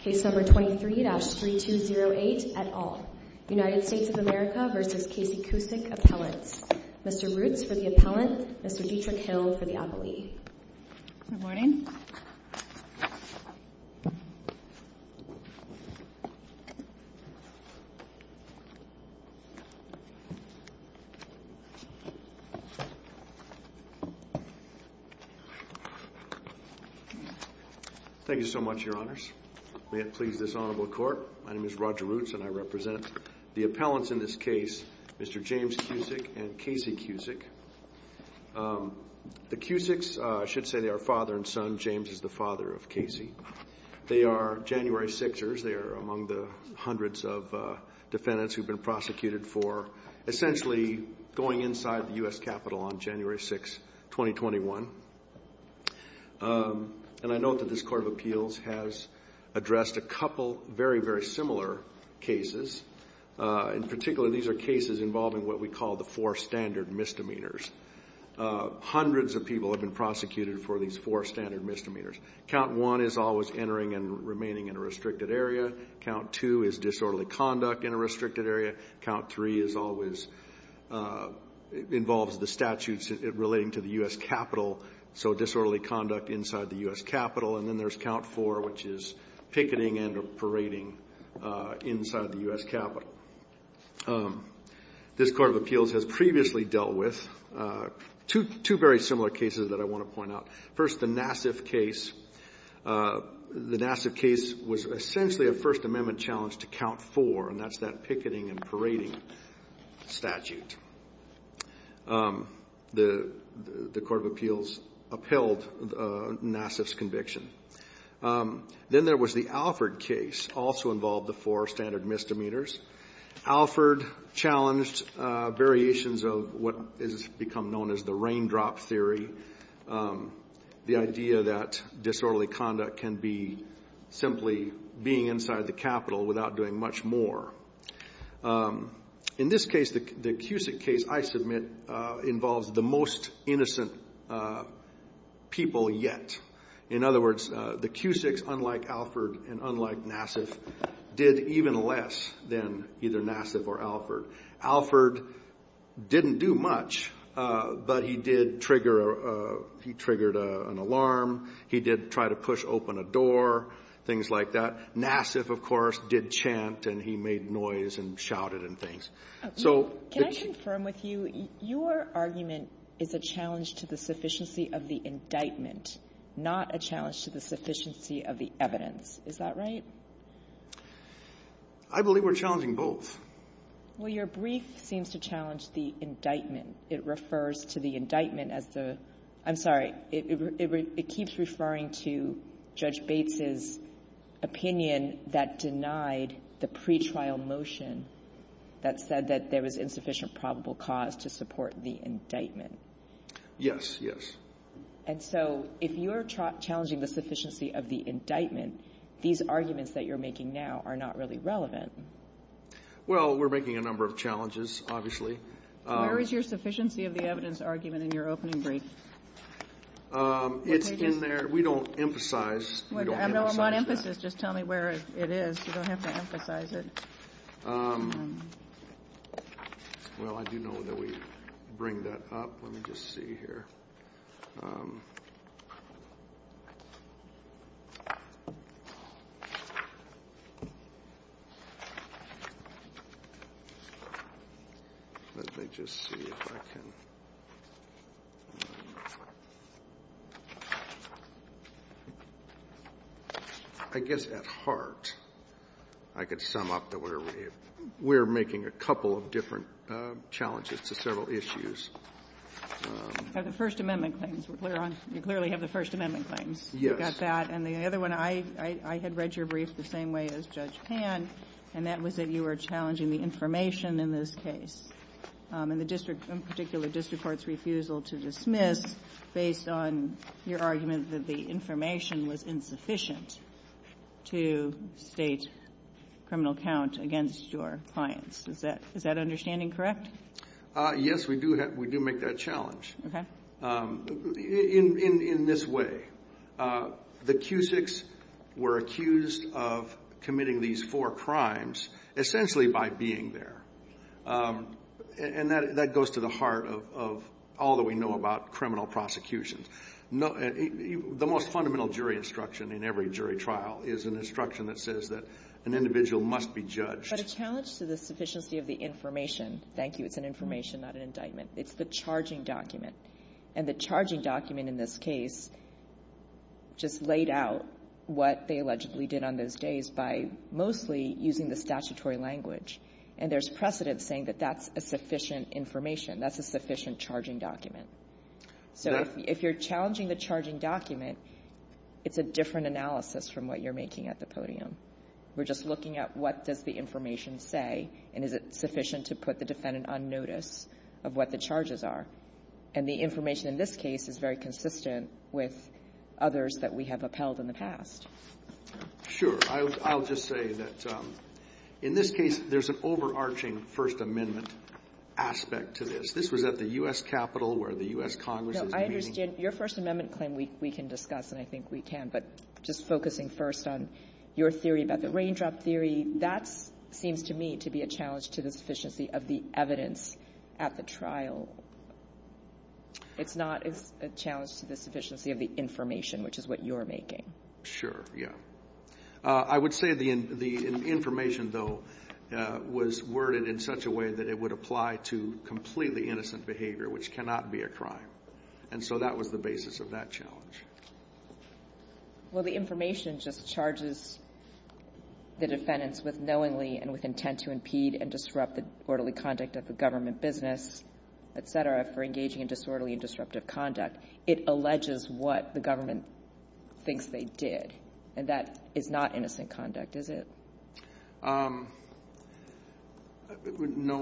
Case number 23-3208, et al., United States of America v. Casey Cusick, Appellants. Mr. Roots for the Appellant, Mr. Dietrich Hill for the Appellee. Good morning. Thank you so much, Your Honors. May it please this Honorable Court, my name is Roger Roots and I represent the Appellants in this case, Mr. James Cusick and Casey Cusick. The Cusicks, I should say they are father and son, James is the father of Casey. They are January Sixers. They are among the hundreds of defendants who have been prosecuted for essentially going inside the U.S. Capitol on January 6, 2021. And I note that this Court of Appeals has addressed a couple very, very similar cases. In particular, these are cases involving what we call the four standard misdemeanors. Hundreds of people have been prosecuted for these four standard misdemeanors. Count one is always entering and remaining in a restricted area. Count two is disorderly conduct in a restricted area. Count three is always, involves the statutes relating to the U.S. Capitol, so disorderly conduct inside the U.S. Capitol. And then there's count four, which is picketing and or parading inside the U.S. Capitol. This Court of Appeals has previously dealt with two very similar cases that I want to point out. First, the Nassif case. The Nassif case was essentially a First Amendment challenge to count four, and that's that picketing and parading statute. The Court of Appeals upheld Nassif's conviction. Then there was the Alford case, also involved the four standard misdemeanors. Alford challenged variations of what has become known as the raindrop theory, the idea that disorderly conduct can be simply being inside the Capitol without doing much more. In this case, the Cusick case, I submit, involves the most innocent people yet. In other words, the Cusicks, unlike Alford and unlike Nassif, did even less than either Nassif or Alford. Alford didn't do much, but he did trigger an alarm. He did try to push open a door, things like that. Nassif, of course, did chant, and he made noise and shouted and things. Can I confirm with you, your argument is a challenge to the sufficiency of the indictment, not a challenge to the sufficiency of the evidence. Is that right? I believe we're challenging both. Well, your brief seems to challenge the indictment. It refers to the indictment as the ‑‑ I'm sorry, it keeps referring to Judge Bates's opinion that denied the pretrial motion that said that there was insufficient probable cause to support the indictment. Yes, yes. And so if you're challenging the sufficiency of the indictment, these arguments that you're making now are not really relevant. Well, we're making a number of challenges, obviously. Where is your sufficiency of the evidence argument in your opening brief? It's in there. We don't emphasize that. I'm on emphasis. Just tell me where it is. You don't have to emphasize it. Well, I do know that we bring that up. Let me just see here. Let me just see if I can. I guess at heart I could sum up that we're making a couple of different challenges to several issues. You clearly have the First Amendment claims. Yes. You got that. And the other one, I had read your brief the same way as Judge Pan, and that was that you were challenging the information in this case, in particular district court's refusal to dismiss based on your argument that the information was insufficient to state criminal count against your clients. Is that understanding correct? Yes, we do make that challenge in this way. The accusics were accused of committing these four crimes essentially by being there. And that goes to the heart of all that we know about criminal prosecution. The most fundamental jury instruction in every jury trial is an instruction that says that an individual must be judged. But a challenge to the sufficiency of the information. Thank you. It's an information, not an indictment. It's the charging document. And the charging document in this case just laid out what they allegedly did on those days by mostly using the statutory language. And there's precedent saying that that's a sufficient information. That's a sufficient charging document. So if you're challenging the charging document, it's a different analysis from what you're making at the podium. We're just looking at what does the information say, and is it sufficient to put the defendant on notice of what the charges are. And the information in this case is very consistent with others that we have upheld in the past. Sure. I'll just say that in this case, there's an overarching First Amendment aspect to this. This was at the U.S. Capitol where the U.S. Congress is meeting. No, I understand. Your First Amendment claim we can discuss, and I think we can. But just focusing first on your theory about the raindrop theory, that seems to me to be a challenge to the sufficiency of the evidence at the trial. It's not a challenge to the sufficiency of the information, which is what you're making. Sure. Yeah. I would say the information, though, was worded in such a way that it would apply to completely innocent behavior, which cannot be a crime. And so that was the basis of that challenge. Well, the information just charges the defendants with knowingly and with intent to impede and disrupt the orderly conduct of the government business, et cetera, for engaging in disorderly and disruptive conduct. It alleges what the government thinks they did. And that is not innocent conduct, is it? No,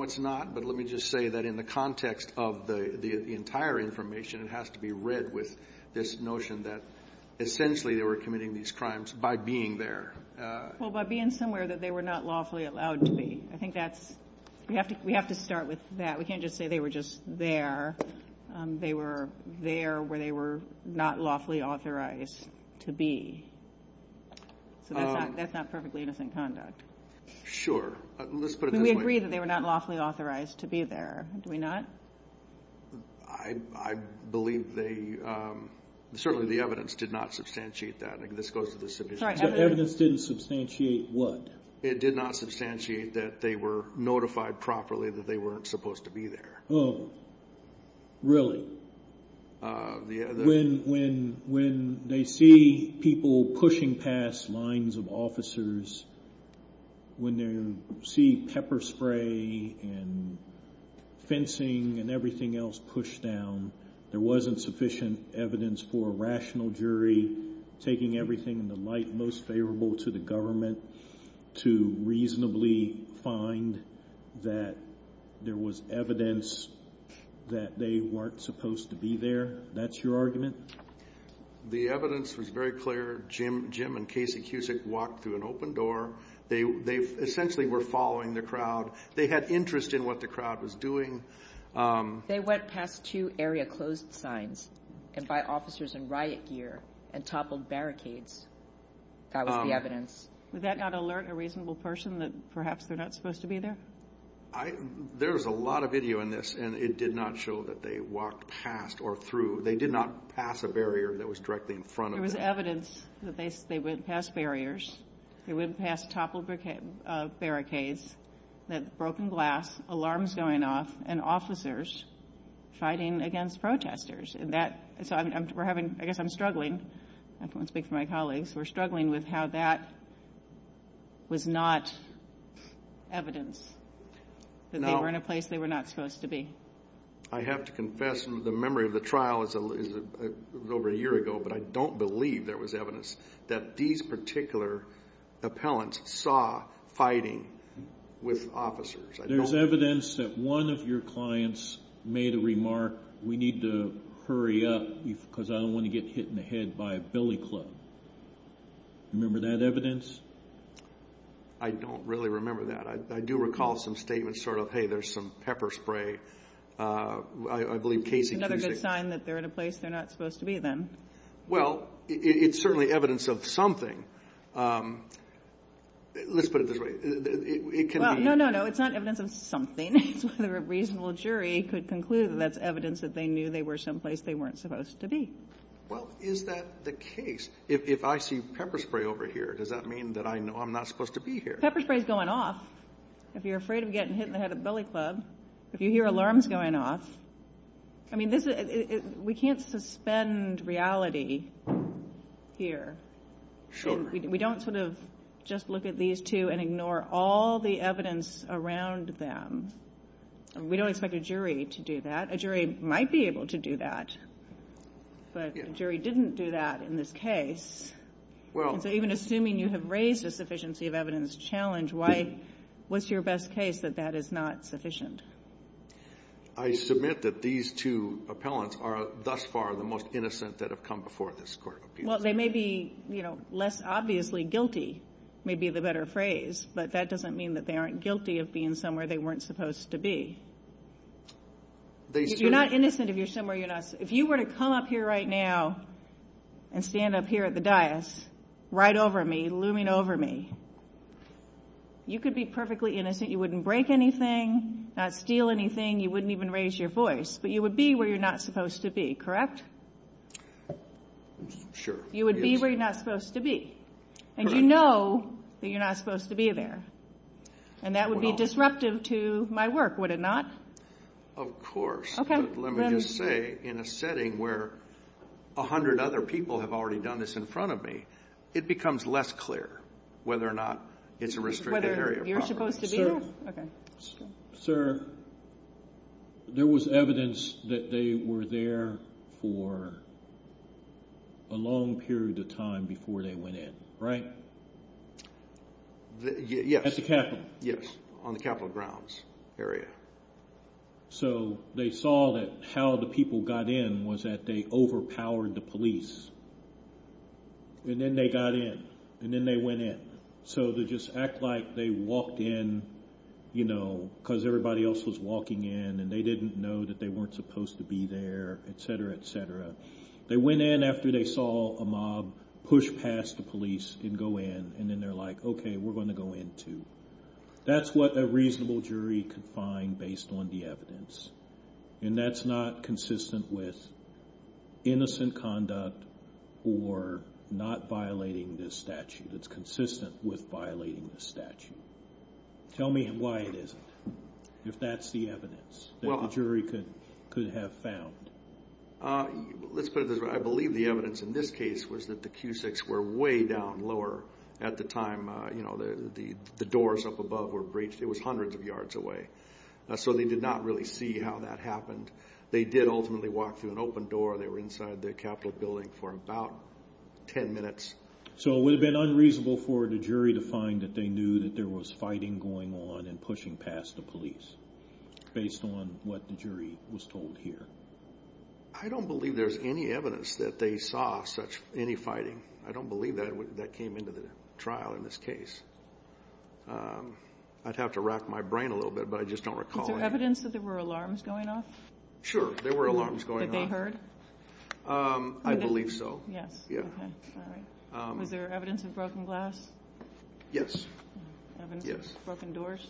it's not. But let me just say that in the context of the entire information, it has to be read with this notion that essentially they were committing these crimes by being there. Well, by being somewhere that they were not lawfully allowed to be. I think that's we have to start with that. We can't just say they were just there. They were there where they were not lawfully authorized to be. So that's not perfectly innocent conduct. Let's put it this way. We agree that they were not lawfully authorized to be there. Do we not? I believe they, certainly the evidence did not substantiate that. This goes to the submission. The evidence didn't substantiate what? It did not substantiate that they were notified properly that they weren't supposed to be there. Oh, really? When they see people pushing past lines of officers, when they see pepper spray and fencing and everything else pushed down, there wasn't sufficient evidence for a rational jury taking everything in the light most favorable to the government to reasonably find that there was evidence that they weren't supposed to be there. That's your argument? The evidence was very clear. Jim and Casey Cusick walked through an open door. They essentially were following the crowd. They had interest in what the crowd was doing. They went past two area closed signs and by officers in riot gear and toppled barricades. That was the evidence. Would that not alert a reasonable person that perhaps they're not supposed to be there? There's a lot of video in this, and it did not show that they walked past or through. They did not pass a barrier that was directly in front of them. There was evidence that they went past barriers. They went past toppled barricades, broken glass, alarms going off, and officers fighting against protesters. I guess I'm struggling. I don't want to speak for my colleagues. We're struggling with how that was not evidence that they were in a place they were not supposed to be. I have to confess the memory of the trial is over a year ago, but I don't believe there was evidence that these particular appellants saw fighting with officers. There's evidence that one of your clients made a remark, we need to hurry up because I don't want to get hit in the head by a billy club. Remember that evidence? I don't really remember that. I do recall some statements sort of, hey, there's some pepper spray. I believe Casey— Another good sign that they're in a place they're not supposed to be then. Well, it's certainly evidence of something. Let's put it this way. No, no, no. It's not evidence of something. It's whether a reasonable jury could conclude that that's evidence that they knew they were someplace they weren't supposed to be. Well, is that the case? If I see pepper spray over here, does that mean that I know I'm not supposed to be here? Pepper spray is going off. If you're afraid of getting hit in the head with a billy club, if you hear alarms going off, I mean, we can't suspend reality here. We don't sort of just look at these two and ignore all the evidence around them. We don't expect a jury to do that. A jury might be able to do that, but a jury didn't do that in this case. So even assuming you have raised a sufficiency of evidence challenge, what's your best case that that is not sufficient? I submit that these two appellants are thus far the most innocent that have come before this court of appeals. Well, they may be, you know, less obviously guilty may be the better phrase, but that doesn't mean that they aren't guilty of being somewhere they weren't supposed to be. You're not innocent if you're somewhere you're not. If you were to come up here right now and stand up here at the dais right over me, looming over me, you could be perfectly innocent. You wouldn't break anything, not steal anything. You wouldn't even raise your voice. But you would be where you're not supposed to be, correct? Sure. You would be where you're not supposed to be. Correct. And you know that you're not supposed to be there. And that would be disruptive to my work, would it not? Of course. Okay. Let me just say, in a setting where a hundred other people have already done this in front of me, it becomes less clear whether or not it's a restricted area of property. Whether you're supposed to be there? Sir. For a long period of time before they went in, right? Yes. At the Capitol? Yes, on the Capitol grounds area. So they saw that how the people got in was that they overpowered the police. And then they got in. And then they went in. So they just act like they walked in, you know, because everybody else was walking in and they didn't know that they weren't supposed to be there, et cetera, et cetera. They went in after they saw a mob push past the police and go in. And then they're like, okay, we're going to go in too. That's what a reasonable jury could find based on the evidence. And that's not consistent with innocent conduct or not violating this statute. It's consistent with violating this statute. Tell me why it isn't. If that's the evidence that the jury could have found. Let's put it this way. I believe the evidence in this case was that the Q6 were way down lower at the time, you know, the doors up above were breached. It was hundreds of yards away. So they did not really see how that happened. They did ultimately walk through an open door. They were inside the Capitol building for about ten minutes. So it would have been unreasonable for the jury to find that they knew that there was fighting going on and pushing past the police based on what the jury was told here. I don't believe there's any evidence that they saw any fighting. I don't believe that came into the trial in this case. I'd have to rack my brain a little bit, but I just don't recall it. Is there evidence that there were alarms going off? Sure. There were alarms going off. That they heard? I believe so. Yes. Yeah. Was there evidence of broken glass? Yes. Evidence of broken doors?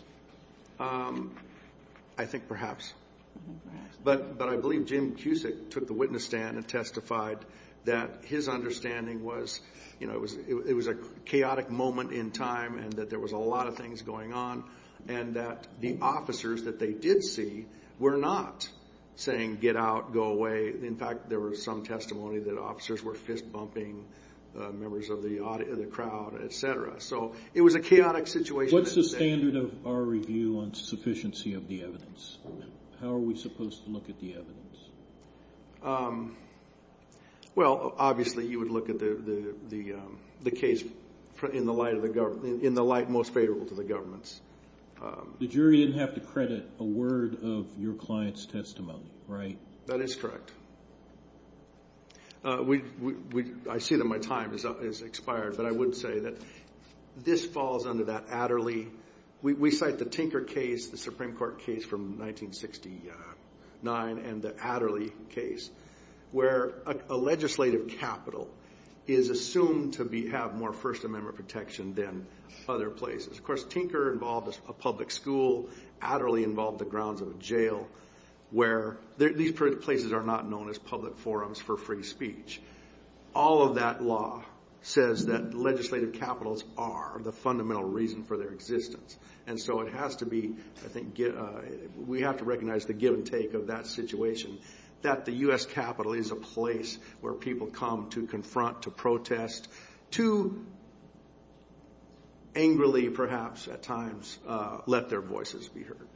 I think perhaps. But I believe Jim Cusick took the witness stand and testified that his understanding was, you know, it was a chaotic moment in time and that there was a lot of things going on and that the officers that they did see were not saying get out, go away. In fact, there was some testimony that officers were fist bumping members of the crowd, et cetera. So it was a chaotic situation. What's the standard of our review on sufficiency of the evidence? How are we supposed to look at the evidence? Well, obviously you would look at the case in the light most favorable to the governments. The jury didn't have to credit a word of your client's testimony, right? That is correct. I see that my time has expired, but I would say that this falls under that Adderley. We cite the Tinker case, the Supreme Court case from 1969, and the Adderley case, where a legislative capital is assumed to have more First Amendment protection than other places. Of course, Tinker involved a public school. Adderley involved the grounds of a jail. These places are not known as public forums for free speech. All of that law says that legislative capitals are the fundamental reason for their existence, and so we have to recognize the give and take of that situation, that the U.S. Capitol is a place where people come to confront, to protest, to angrily, perhaps at times, let their voices be heard.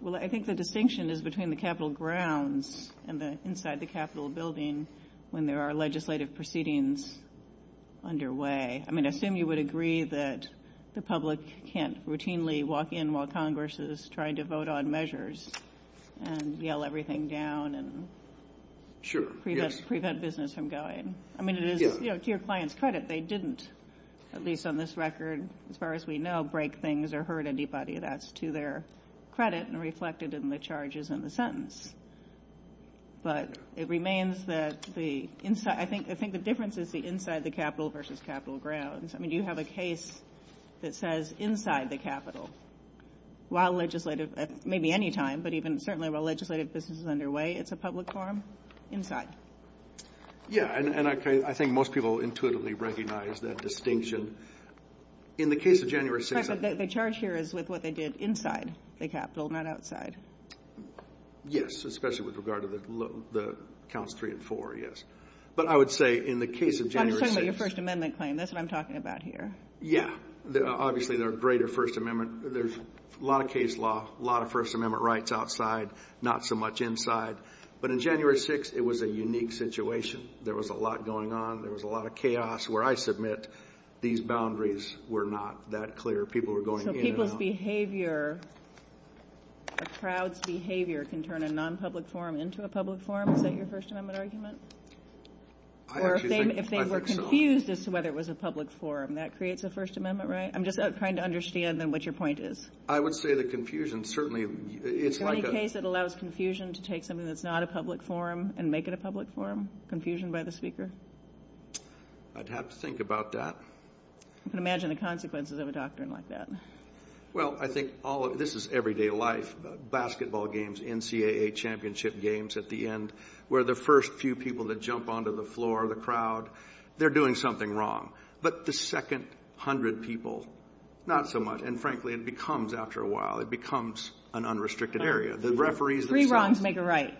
Well, I think the distinction is between the Capitol grounds and inside the Capitol building when there are legislative proceedings underway. I mean, I assume you would agree that the public can't routinely walk in while Congress is trying to vote on measures and yell everything down and prevent business from going. I mean, to your client's credit, they didn't, at least on this record, as far as we know, break things or hurt anybody. That's to their credit and reflected in the charges in the sentence. But it remains that the inside – I think the difference is the inside the Capitol versus Capitol grounds. I mean, do you have a case that says inside the Capitol while legislative – maybe any time, but even certainly while legislative business is underway, it's a public forum? Inside. Yeah, and I think most people intuitively recognize that distinction. In the case of January 6th – The charge here is with what they did inside the Capitol, not outside. Yes, especially with regard to the counts three and four, yes. But I would say in the case of January 6th – I'm talking about your First Amendment claim. That's what I'm talking about here. Yeah. Obviously, there are greater First Amendment – there's a lot of case law, a lot of First Amendment rights outside, not so much inside. But in January 6th, it was a unique situation. There was a lot going on. There was a lot of chaos where I submit these boundaries were not that clear. People were going in and out. So people's behavior, a crowd's behavior can turn a non-public forum into a public forum? Is that your First Amendment argument? I actually think – I think so. Or if they were confused as to whether it was a public forum, that creates a First Amendment right? I'm just trying to understand then what your point is. I would say the confusion certainly – it's like a – Is there any case that allows confusion to take something that's not a public forum and make it a public forum? Confusion by the speaker? I'd have to think about that. I can imagine the consequences of a doctrine like that. Well, I think all – this is everyday life. Basketball games, NCAA championship games at the end where the first few people that jump onto the floor, the crowd, they're doing something wrong. But the second hundred people, not so much. And frankly, it becomes after a while. It becomes an unrestricted area. The referees themselves – Three wrongs make a right.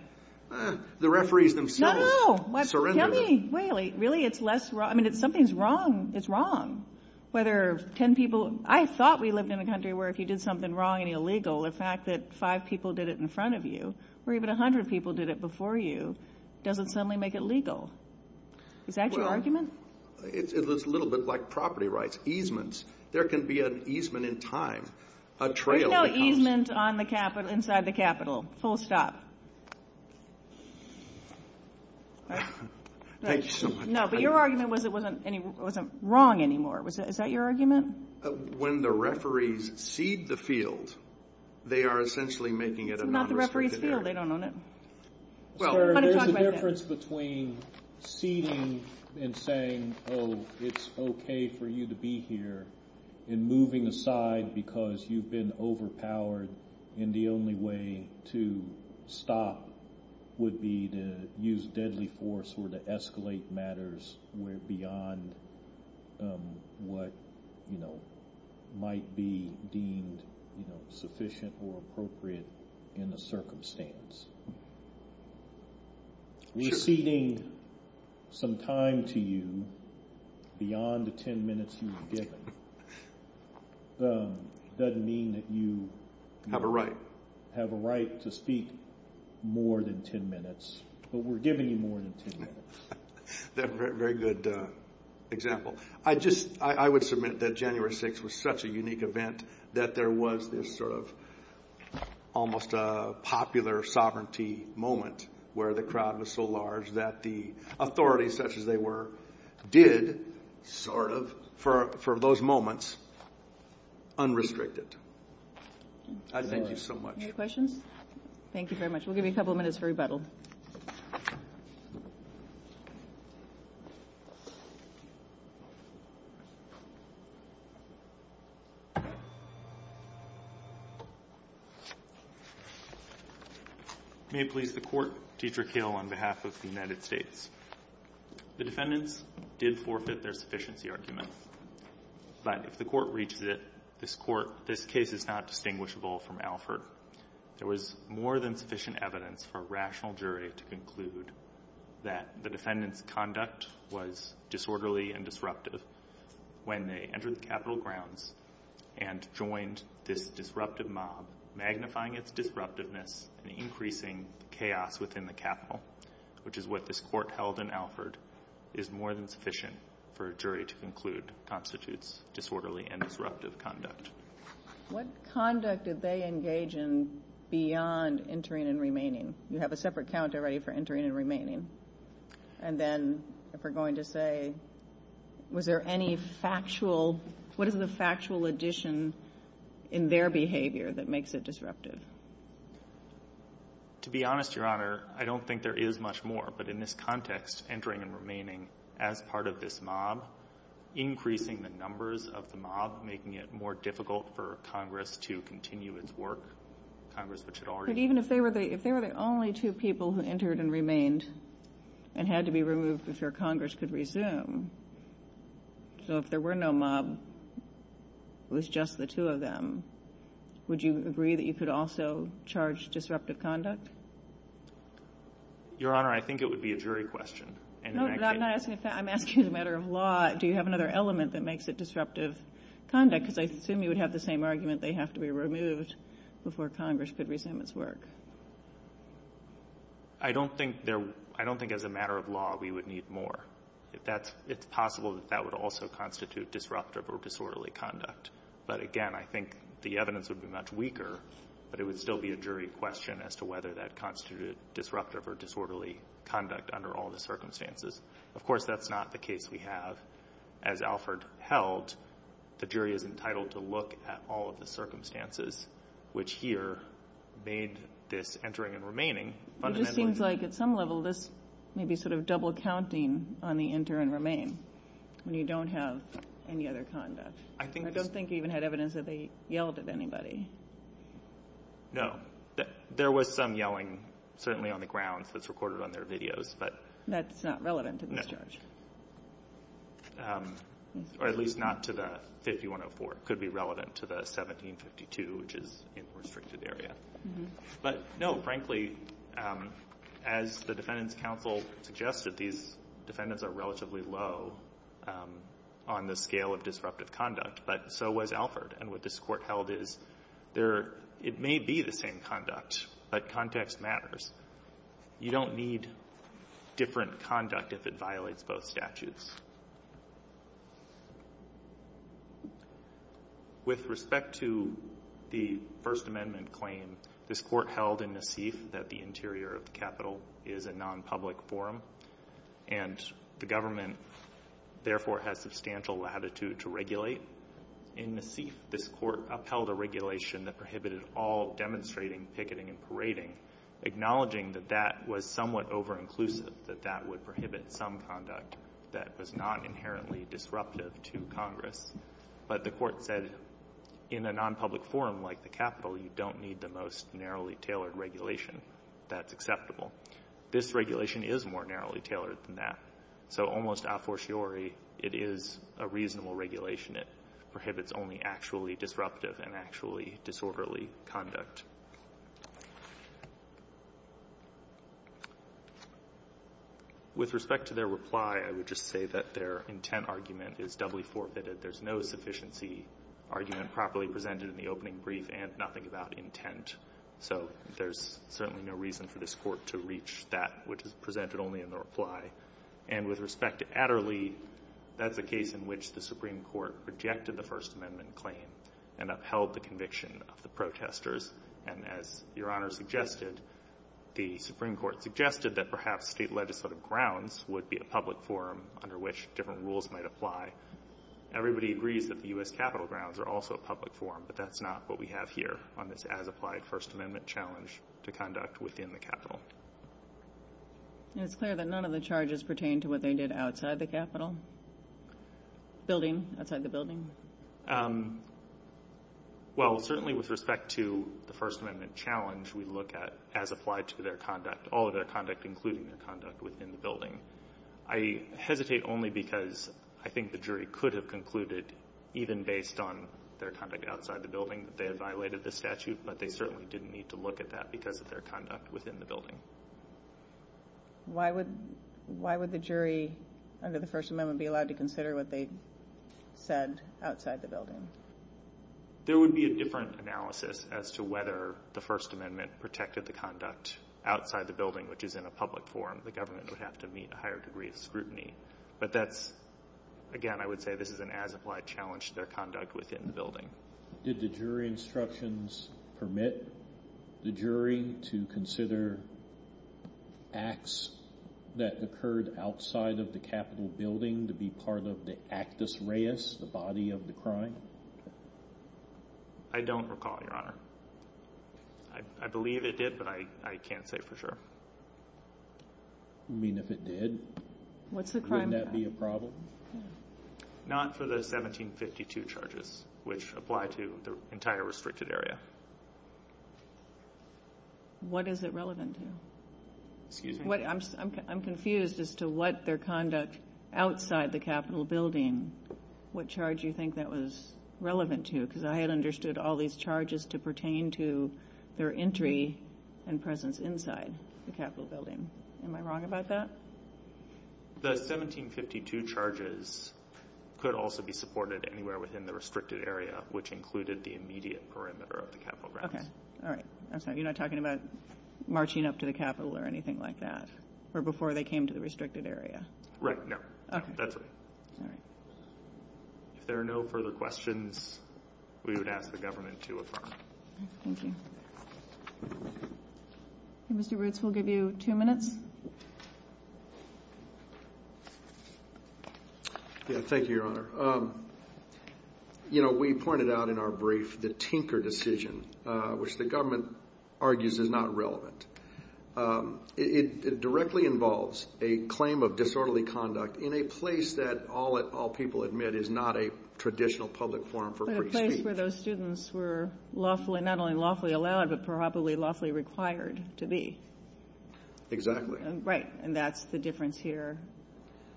The referees themselves – No, no. Surrender them. Really? Really? It's less – I mean, if something's wrong, it's wrong. Whether ten people – I thought we lived in a country where if you did something wrong and illegal, the fact that five people did it in front of you, or even a hundred people did it before you, doesn't suddenly make it legal. Is that your argument? It's a little bit like property rights, easements. There can be an easement in time. There's no easement on the Capitol – inside the Capitol. Full stop. Thank you so much. No, but your argument was it wasn't wrong anymore. Is that your argument? When the referees cede the field, they are essentially making it a non-restricted area. It's not the referee's field. They don't own it. Well, there's a difference between ceding and saying, oh, it's okay for you to be here, and moving aside because you've been overpowered, and the only way to stop would be to use deadly force or to escalate matters beyond what might be deemed sufficient or appropriate in the circumstance. We're ceding some time to you beyond the ten minutes you were given. It doesn't mean that you have a right to speak more than ten minutes, but we're giving you more than ten minutes. That's a very good example. I would submit that January 6th was such a unique event that there was this sort of almost popular sovereignty moment where the crowd was so large that the authorities, such as they were, did sort of, for those moments, unrestricted. Thank you so much. Any questions? Thank you very much. We'll give you a couple of minutes for rebuttal. May it please the Court. Dietrich Hill on behalf of the United States. The defendants did forfeit their sufficiency argument, but if the Court reaches it, this case is not distinguishable from Alford. There was more than sufficient evidence for a rational jury to conclude that the defendant's conduct was disorderly and disruptive when they entered the Capitol grounds and joined this disruptive mob, magnifying its disruptiveness and increasing chaos within the Capitol, which is what this Court held in Alford, is more than sufficient for a jury to conclude constitutes disorderly and disruptive conduct. What conduct did they engage in beyond entering and remaining? You have a separate count already for entering and remaining. And then if we're going to say was there any factual, what is the factual addition in their behavior that makes it disruptive? To be honest, Your Honor, I don't think there is much more, but in this context, entering and remaining as part of this mob, increasing the numbers of the mob, making it more difficult for Congress to continue its work. Congress, which had already... But even if they were the only two people who entered and remained and had to be removed before Congress could resume, so if there were no mob, it was just the two of them, would you agree that you could also charge disruptive conduct? Your Honor, I think it would be a jury question. No, but I'm not asking if that. I'm asking as a matter of law, do you have another element that makes it disruptive conduct? Because I assume you would have the same argument, they have to be removed before Congress could resume its work. I don't think there... I don't think as a matter of law we would need more. It's possible that that would also constitute disruptive or disorderly conduct. But again, I think the evidence would be much weaker, but it would still be a jury question as to whether that constituted disruptive or disorderly conduct under all the circumstances. Of course, that's not the case we have. As Alford held, the jury is entitled to look at all of the circumstances, which here made this entering and remaining fundamentally... It just seems like at some level this may be sort of double-counting on the enter and remain when you don't have any other conduct. I don't think you even had evidence that they yelled at anybody. No. There was some yelling, certainly on the grounds, that's recorded on their videos, but... That's not relevant to this charge. Or at least not to the 5104. It could be relevant to the 1752, which is in the restricted area. But, no, frankly, as the Defendants' Counsel suggested, these defendants are relatively low on the scale of disruptive conduct, but so was Alford. And what this Court held is it may be the same conduct, but context matters. You don't need different conduct if it violates both statutes. With respect to the First Amendment claim, this Court held in Nassif that the interior of the Capitol is a non-public forum, and the government therefore has substantial latitude to regulate. In Nassif, this Court upheld a regulation that prohibited all demonstrating, picketing, and parading, acknowledging that that was somewhat over-inclusive, that that would prohibit some conduct that was not inherently disruptive to Congress. But the Court said, in a non-public forum like the Capitol, you don't need the most narrowly tailored regulation. That's acceptable. This regulation is more narrowly tailored than that. So almost a fortiori, it is a reasonable regulation. It prohibits only actually disruptive and actually disorderly conduct. With respect to their reply, I would just say that their intent argument is doubly forfeited. There's no sufficiency argument properly presented in the opening brief and nothing about intent. So there's certainly no reason for this Court to reach that, which is presented only in the reply. And with respect to Adderley, that's a case in which the Supreme Court rejected the First Amendment claim and upheld the conviction of the protesters. And as Your Honor suggested, the Supreme Court suggested that perhaps state legislative grounds would be a public forum under which different rules might apply. Everybody agrees that the U.S. Capitol grounds are also a public forum, but that's not what we have here on this as-applied First Amendment challenge to conduct within the Capitol. And it's clear that none of the charges pertain to what they did outside the Capitol building, outside the building? Well, certainly with respect to the First Amendment challenge, we look at as-applied to their conduct, all of their conduct, including their conduct within the building. I hesitate only because I think the jury could have concluded, even based on their conduct outside the building, that they had violated the statute, but they certainly didn't need to look at that because of their conduct within the building. Why would the jury under the First Amendment be allowed to consider what they said outside the building? There would be a different analysis as to whether the First Amendment protected the conduct outside the building, which is in a public forum. The government would have to meet a higher degree of scrutiny. But that's, again, I would say this is an as-applied challenge to their conduct within the building. Did the jury instructions permit the jury to consider acts that occurred outside of the Capitol building to be part of the actus reus, the body of the crime? I don't recall, Your Honor. I believe it did, but I can't say for sure. You mean if it did, wouldn't that be a problem? Not for the 1752 charges, which apply to the entire restricted area. What is it relevant to? Excuse me? I'm confused as to what their conduct outside the Capitol building, what charge you think that was relevant to because I had understood all these charges to pertain to their entry and presence inside the Capitol building. Am I wrong about that? The 1752 charges could also be supported anywhere within the restricted area, which included the immediate perimeter of the Capitol grounds. Okay, all right. You're not talking about marching up to the Capitol or anything like that, or before they came to the restricted area? Right, no. That's right. If there are no further questions, we would ask the government to affirm. Thank you. Mr. Roots, we'll give you two minutes. Thank you, Your Honor. You know, we pointed out in our brief the Tinker decision, which the government argues is not relevant. It directly involves a claim of disorderly conduct in a place that all people admit is not a traditional public forum for free speech. But a place where those students were lawfully, not only lawfully allowed, but probably lawfully required to be. Exactly. Right, and that's the difference here.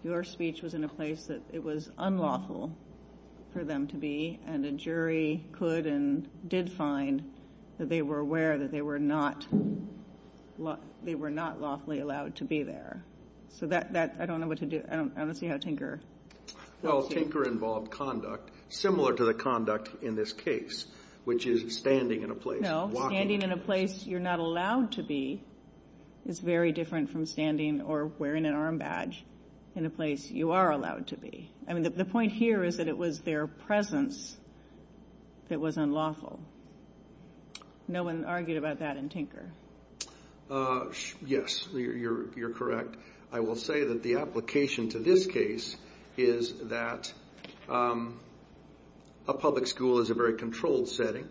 Your speech was in a place that it was unlawful for them to be, and a jury could and did find that they were aware that they were not lawfully allowed to be there. So that, I don't know what to do. I don't see how Tinker... Well, Tinker involved conduct similar to the conduct in this case, which is standing in a place. No, standing in a place you're not allowed to be is very different from standing or wearing an arm badge in a place you are allowed to be. I mean, the point here is that it was their presence that was unlawful. No one argued about that in Tinker. Yes, you're correct. I will say that the application to this case is that a public school is a very controlled setting,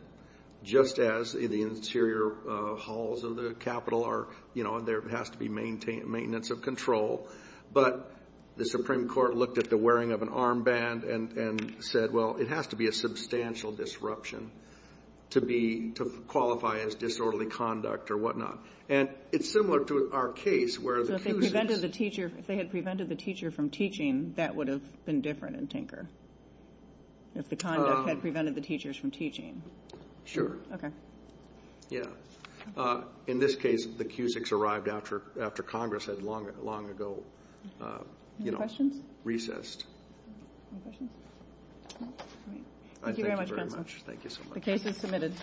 just as the interior halls of the Capitol are, and there has to be maintenance of control. But the Supreme Court looked at the wearing of an armband and said, well, it has to be a substantial disruption to qualify as disorderly conduct or whatnot. And it's similar to our case where the accuser... So if they had prevented the teacher from teaching, that would have been different in Tinker, if the conduct had prevented the teachers from teaching. Sure. Yeah. In this case, the accusers arrived after Congress had long ago... Any questions? ...recessed. Any questions? Thank you very much, Counselor. Thank you very much. Thank you so much. The case is submitted.